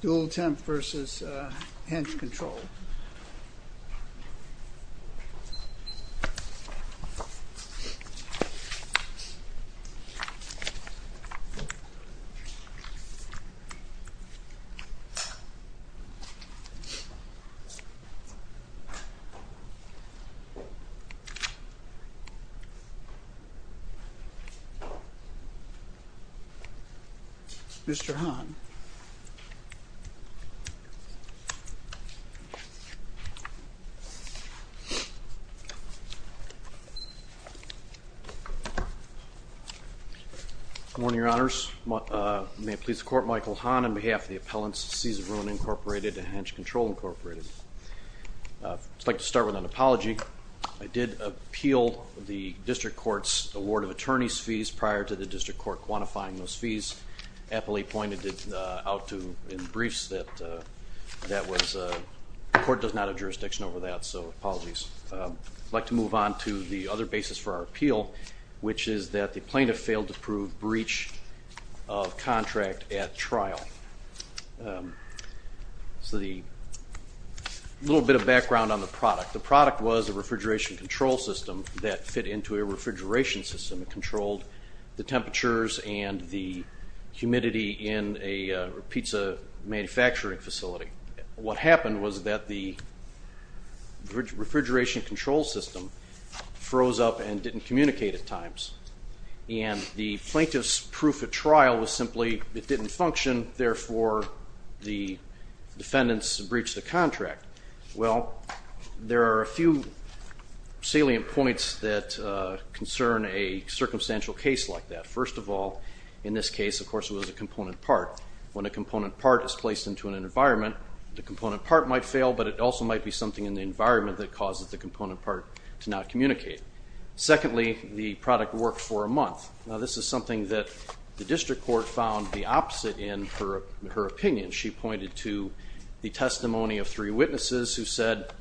Dual-Temp v. Hench Control. Mr. Hahn. Good morning, Your Honors. May it please the Court, Michael Hahn on behalf of the appellants, Cesar Bruin, Incorporated and Hench Control, Incorporated. I'd just like to start with an apology. I did appeal the district court's award of attorney's fees prior to the district court quantifying those fees. Appellate pointed out in briefs that the court does not have jurisdiction over that, so apologies. I'd like to move on to the other basis for our appeal, which is that the plaintiff failed to prove breach of contract at trial. So a little bit of background on the product. The product was a refrigeration control system that fit into a refrigeration system and controlled the temperatures and the humidity in a pizza manufacturing facility. What happened was that the refrigeration control system froze up and didn't communicate at times. And the plaintiff's proof at trial was simply it didn't function, therefore the defendants breached the contract. Well, there are a few salient points that concern a circumstantial case like that. First of all, in this case, of course, it was a component part. When a component part is placed into an environment, the component part might fail, but it also might be something in the environment that causes the component part to not communicate. Secondly, the product worked for a month. Now, this is something that the district court found the opposite in her opinion. She pointed to the testimony of three witnesses who said,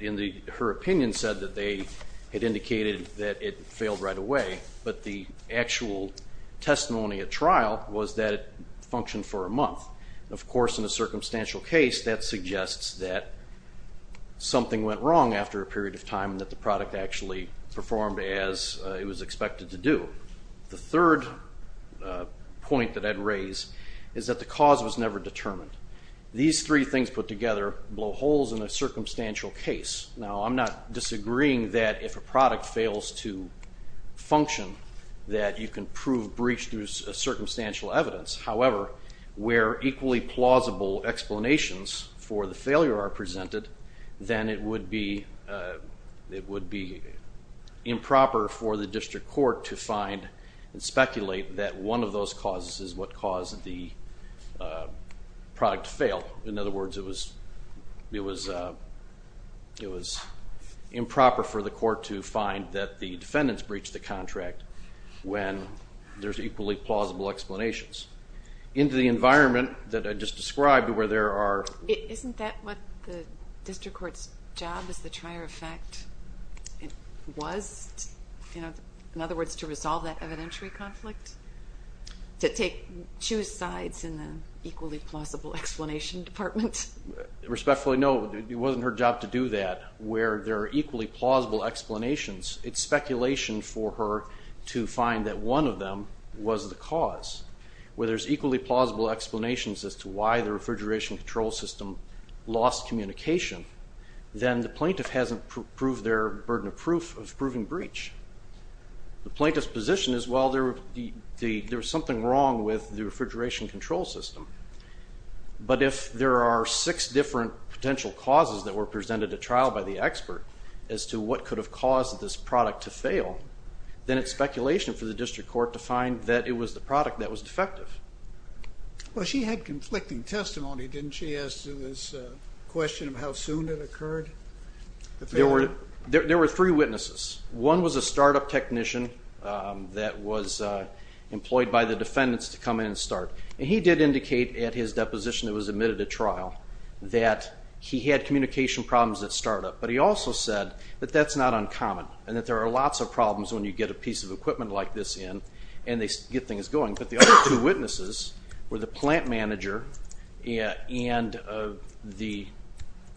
in her opinion, said that they had indicated that it failed right away. But the actual testimony at trial was that it functioned for a month. Of course, in a circumstantial case, that suggests that something went wrong after a period of time and that the product actually performed as it was expected to do. The third point that I'd raise is that the cause was never determined. These three things put together blow holes in a circumstantial case. Now, I'm not disagreeing that if a product fails to function, that you can prove breach through circumstantial evidence. However, where equally plausible explanations for the failure are presented, then it would be improper for the district court to find and speculate that one of those causes is what caused the product to fail. In other words, it was improper for the court to find that the defendants breached the contract when there's equally plausible explanations. Into the environment that I just described where there are... Isn't that what the district court's job as the trier of fact was? In other words, to resolve that evidentiary conflict? To choose sides in the equally plausible explanation department? Respectfully, no. It wasn't her job to do that. Where there are equally plausible explanations, it's speculation for her to find that one of them was the cause. Where there's equally plausible explanations as to why the refrigeration control system lost communication, then the plaintiff hasn't proved their burden of proof of proving breach. The plaintiff's position is, well, there was something wrong with the refrigeration control system. But if there are six different potential causes that were presented at trial by the expert as to what could have caused this product to fail, then it's speculation for the district court to find that it was the product that was defective. Well, she had conflicting testimony, didn't she, as to this question of how soon it occurred? There were three witnesses. One was a startup technician that was employed by the defendants to come in and start. And he did indicate at his deposition that was admitted at trial that he had communication problems at startup. But he also said that that's not uncommon and that there are lots of problems when you get a piece of equipment like this in and they get things going. But the other two witnesses were the plant manager and the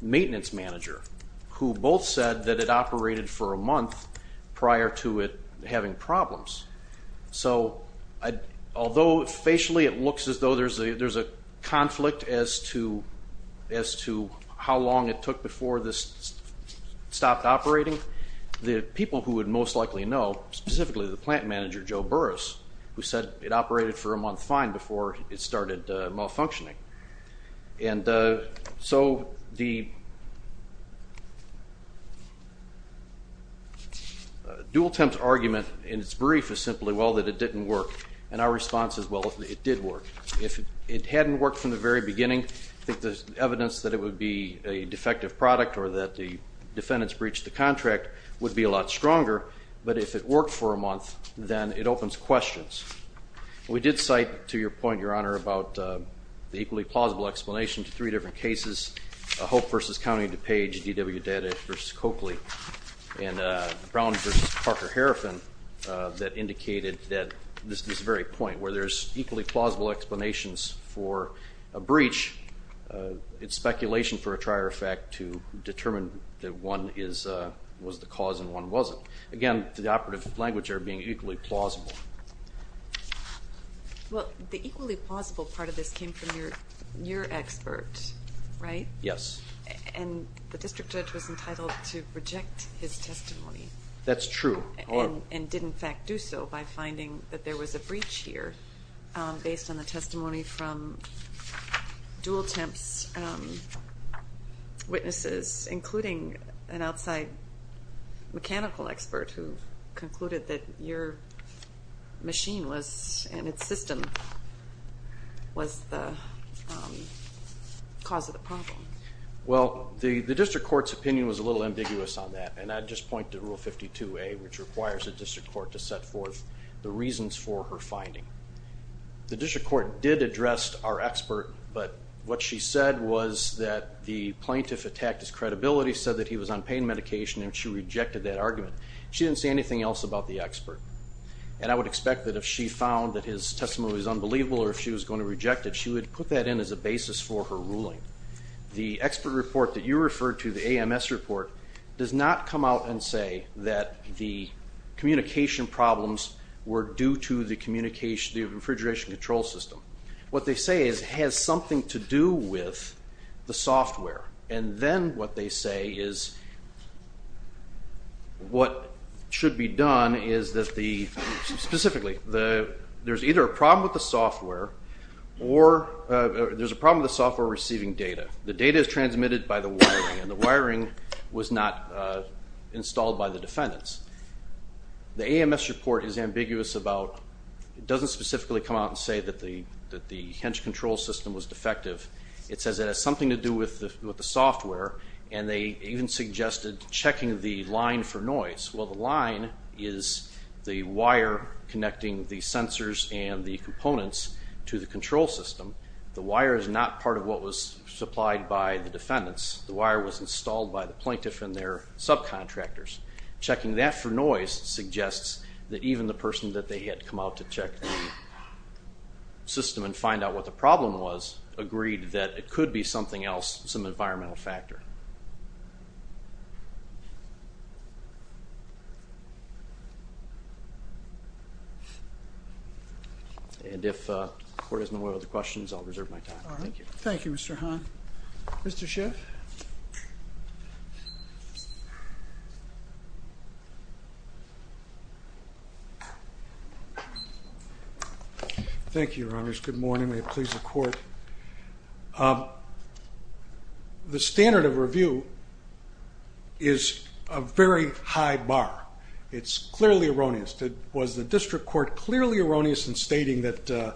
maintenance manager, who both said that it operated for a month prior to it having problems. So although facially it looks as though there's a conflict as to how long it took before this specifically the plant manager, Joe Burrus, who said it operated for a month fine before it started malfunctioning. And so the dual-temp argument in its brief is simply, well, that it didn't work. And our response is, well, it did work. If it hadn't worked from the very beginning, I think the evidence that it would be a defective product or that the defendants breached the contract would be a lot stronger. But if it worked for a month, then it opens questions. We did cite to your point, Your Honor, about the equally plausible explanation to three different cases, Hope v. County and DuPage, DWData v. Coakley, and Brown v. Parker-Harafin that indicated that this very point where there's equally plausible explanations for a breach, it's speculation for a trier effect to determine that one was the cause and one wasn't. Again, the operative language there being equally plausible. Well, the equally plausible part of this came from your expert, right? Yes. And the district judge was entitled to reject his testimony. That's true. And did, in fact, do so by finding that there was a breach here based on the testimony from witnesses, including an outside mechanical expert who concluded that your machine was, and its system, was the cause of the problem? Well, the district court's opinion was a little ambiguous on that, and I'd just point to Rule 52A, which requires the district court to set forth the reasons for her finding. The district court did address our expert, but what she said was that the plaintiff attacked his credibility, said that he was on pain medication, and she rejected that argument. She didn't say anything else about the expert. And I would expect that if she found that his testimony was unbelievable or if she was going to reject it, she would put that in as a basis for her ruling. The expert report that you referred to, the AMS report, does not come out and say that the communication problems were due to the refrigeration control system. What they say is it has something to do with the software. And then what they say is what should be done is that the, specifically, there's either a problem with the software or there's a problem with the software receiving data. The data is transmitted by the wiring, and the wiring was not installed by the defendants. The AMS report is ambiguous about, it doesn't specifically come out and say that the hinge control system was defective. It says it has something to do with the software, and they even suggested checking the line for noise. Well, the line is the wire connecting the sensors and the components to the control system. The wire is not part of what was supplied by the defendants. The wire was installed by the plaintiff and their subcontractors. Checking that for noise suggests that even the person that they had come out to check the system and find out what the problem was agreed that it could be something else, some environmental factor. And if the court has no other questions, I'll reserve my time. Thank you. Thank you, Mr. Hahn. Mr. Schiff. Thank you, Your Honors. Good morning. May it please the Court. The standard of review is a very high bar. It's clearly erroneous. Was the district court clearly erroneous in stating that,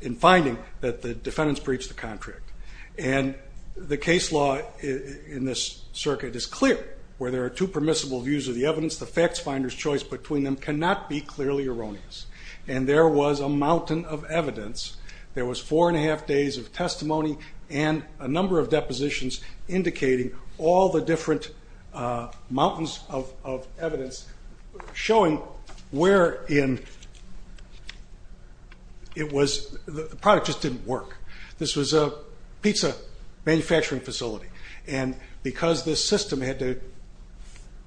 in finding that the defendants breached the contract? And the case law in this circuit is clear. Where there are two permissible views of the evidence, the facts finder's choice between them cannot be clearly erroneous. And there was a mountain of evidence. There was four and a half days of testimony and a number of depositions indicating all the different mountains of evidence showing where in it was the product just didn't work. This was a pizza manufacturing facility. And because this system had to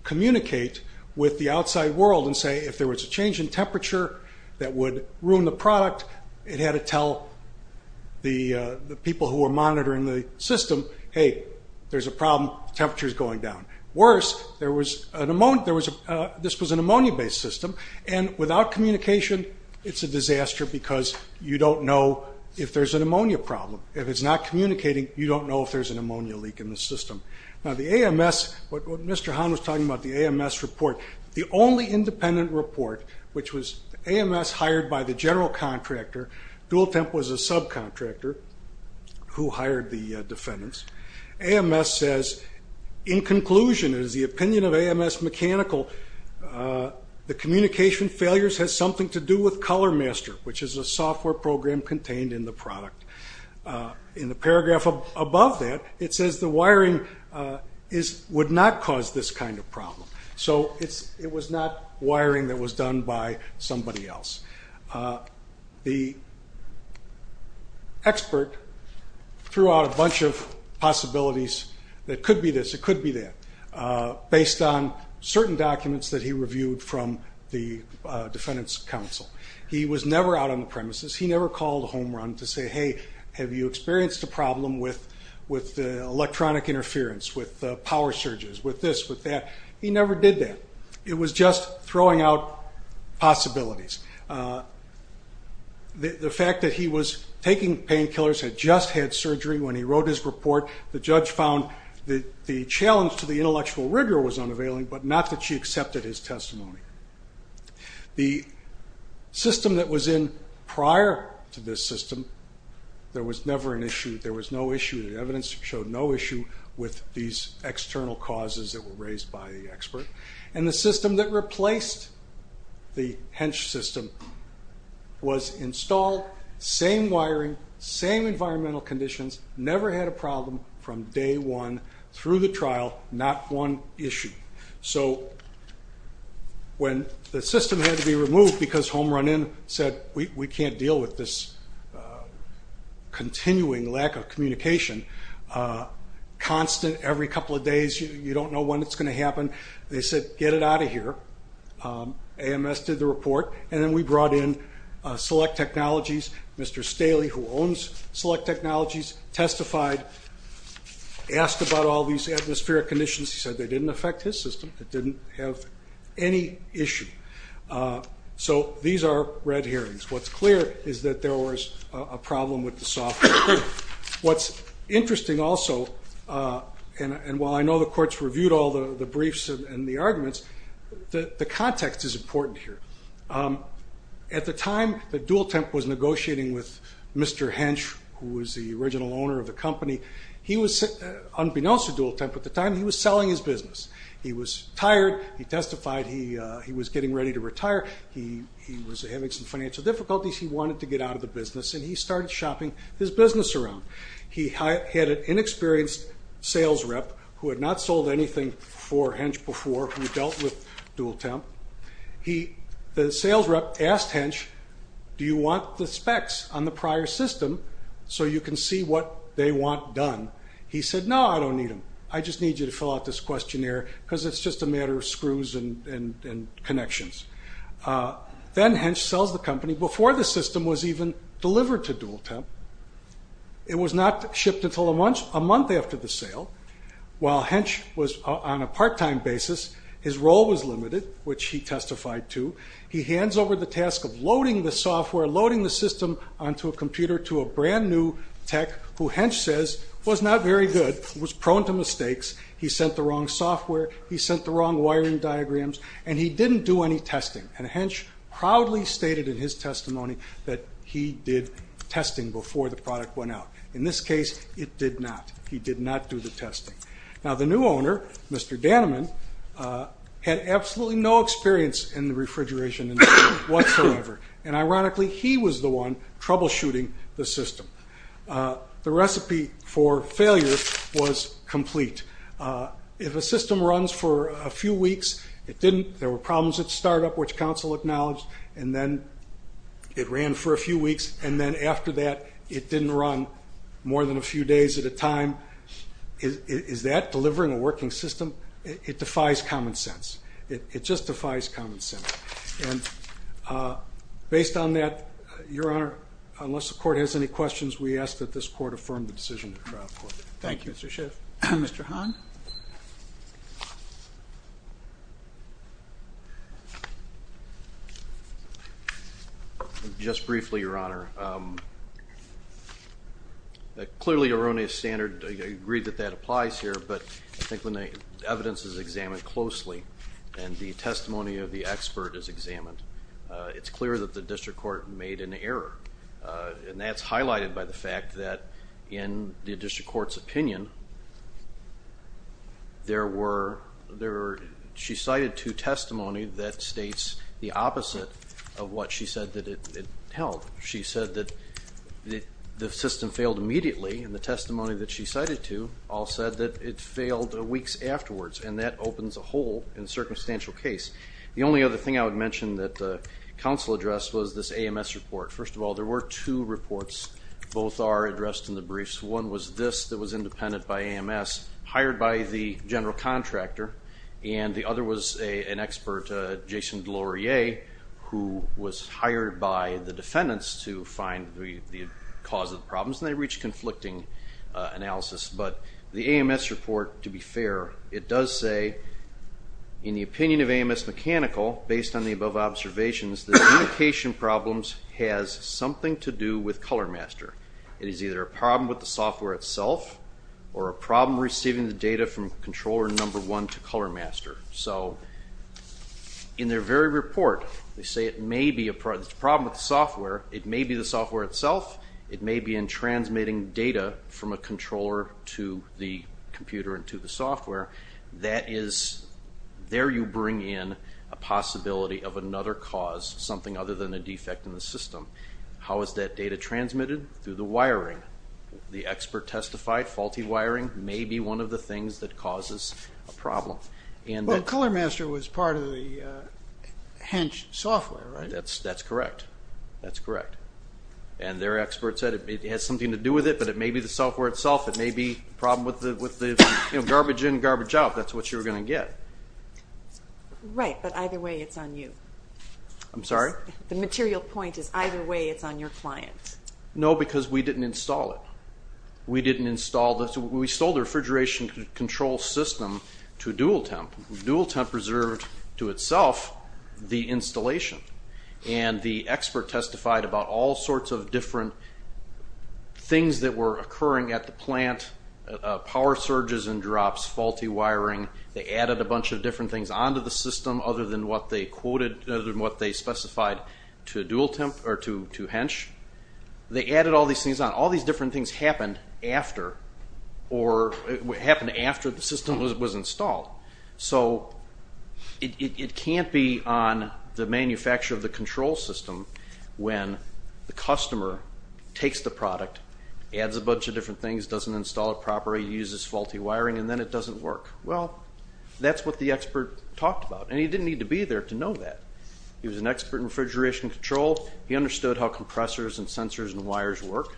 communicate with the outside world and say, if there was a change in temperature that would ruin the product, it had to tell the people who were monitoring the system, hey, there's a problem. The temperature is going down. Worse, this was an ammonia-based system, and without communication, it's a disaster because you don't know if there's an ammonia problem. If it's not communicating, you don't know if there's an ammonia leak in the system. Now, the AMS, what Mr. Hahn was talking about, the AMS report, the only independent report, which was AMS hired by the general contractor. Dual Temp was a subcontractor who hired the defendants. AMS says, in conclusion, it is the opinion of AMS Mechanical, the communication failures has something to do with Color Master, which is a software program contained in the product. In the paragraph above that, it says the wiring would not cause this kind of problem. So it was not wiring that was done by somebody else. The expert threw out a bunch of possibilities that could be this, it could be that, based on certain documents that he reviewed from the defendants' counsel. He was never out on the premises. He never called a home run to say, hey, have you experienced a problem with electronic interference, with power surges, with this, with that. He never did that. It was just throwing out possibilities. The fact that he was taking painkillers, had just had surgery when he wrote his report, the judge found that the challenge to the intellectual rigor was unavailing, but not that she accepted his testimony. The system that was in prior to this system, there was never an issue. There was no issue. The evidence showed no issue with these external causes that were raised by the expert. And the system that replaced the hench system was installed, same wiring, same environmental conditions, never had a problem from day one through the trial, not one issue. So when the system had to be removed because home run in said, we can't deal with this continuing lack of communication, constant every couple of days. You don't know when it's going to happen. They said, get it out of here. AMS did the report, and then we brought in Select Technologies. Mr. Staley, who owns Select Technologies, testified, asked about all these atmospheric conditions. He said they didn't affect his system. It didn't have any issue. So these are red hearings. What's clear is that there was a problem with the software. What's interesting also, and while I know the courts reviewed all the briefs and the arguments, the context is important here. At the time that Dualtemp was negotiating with Mr. Hench, who was the original owner of the company, unbeknownst to Dualtemp at the time, he was selling his business. He was tired. He testified he was getting ready to retire. He was having some financial difficulties. He wanted to get out of the business, and he started shopping his business around. He had an inexperienced sales rep who had not sold anything for Hench before he dealt with Dualtemp. The sales rep asked Hench, do you want the specs on the prior system so you can see what they want done? He said, no, I don't need them. I just need you to fill out this questionnaire because it's just a matter of screws and connections. Then Hench sells the company before the system was even delivered to Dualtemp. It was not shipped until a month after the sale. While Hench was on a part-time basis, his role was limited, which he testified to. He hands over the task of loading the software, loading the system onto a computer to a brand-new tech, who Hench says was not very good, was prone to mistakes. He sent the wrong software. He sent the wrong wiring diagrams, and he didn't do any testing. Hench proudly stated in his testimony that he did testing before the product went out. In this case, it did not. He did not do the testing. Now, the new owner, Mr. Dannemann, had absolutely no experience in the refrigeration industry whatsoever, and ironically, he was the one troubleshooting the system. The recipe for failure was complete. If a system runs for a few weeks, it didn't. There were problems at startup, which council acknowledged, and then it ran for a few weeks, and then after that, it didn't run more than a few days at a time, is that delivering a working system? It defies common sense. It just defies common sense. And based on that, Your Honor, unless the court has any questions, we ask that this court affirm the decision of the trial court. Thank you. Thank you, Mr. Schiff. Mr. Hahn? Just briefly, Your Honor, clearly Erroneous Standard agreed that that applies here, but I think when the evidence is examined closely and the testimony of the expert is examined, it's clear that the district court made an error, and that's highlighted by the fact that in the district court's opinion, she cited two testimony that states the opposite of what she said that it held. She said that the system failed immediately, and the testimony that she cited to all said that it failed weeks afterwards, and that opens a hole in the circumstantial case. The only other thing I would mention that the counsel addressed was this AMS report. First of all, there were two reports. Both are addressed in the briefs. One was this that was independent by AMS, hired by the general contractor, and the other was an expert, Jason Gloria, who was hired by the defendants to find the cause of the problems, and they reached conflicting analysis. But the AMS report, to be fair, it does say, in the opinion of AMS Mechanical, based on the above observations, that communication problems has something to do with Color Master. It is either a problem with the software itself or a problem receiving the data from controller number one to Color Master. So in their very report, they say it may be a problem with the software. It may be the software itself. It may be in transmitting data from a controller to the computer and to the software. That is, there you bring in a possibility of another cause, something other than a defect in the system. How is that data transmitted? Through the wiring. The expert testified faulty wiring may be one of the things that causes a problem. Well, Color Master was part of the HENCH software, right? That's correct. That's correct. And their expert said it has something to do with it, but it may be the software itself. It may be a problem with the garbage in, garbage out. That's what you're going to get. Right, but either way it's on you. I'm sorry? The material point is either way it's on your client. No, because we didn't install it. We didn't install this. We sold the refrigeration control system to Dual Temp. Dual Temp reserved to itself the installation, and the expert testified about all sorts of different things that were occurring at the plant, power surges and drops, faulty wiring. They added a bunch of different things onto the system other than what they quoted, other than what they specified to HENCH. They added all these things on. All these different things happened after the system was installed. So it can't be on the manufacturer of the control system when the customer takes the product, adds a bunch of different things, doesn't install it properly, uses faulty wiring, and then it doesn't work. Well, that's what the expert talked about, and he didn't need to be there to know that. He was an expert in refrigeration control. He understood how compressors and sensors and wires work.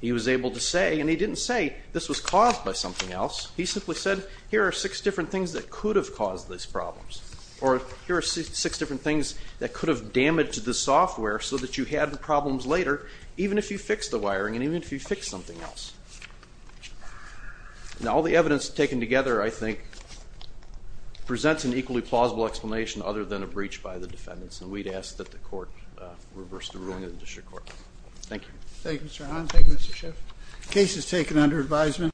He was able to say, and he didn't say this was caused by something else. He simply said here are six different things that could have caused these problems, or here are six different things that could have damaged the software so that you had problems later even if you fixed the wiring and even if you fixed something else. Now, all the evidence taken together, I think, presents an equally plausible explanation other than a breach by the defendants, and we'd ask that the court reverse the ruling of the district court. Thank you. Thank you, Mr. Hahn. Thank you, Mr. Schiff. The case is taken under advisement.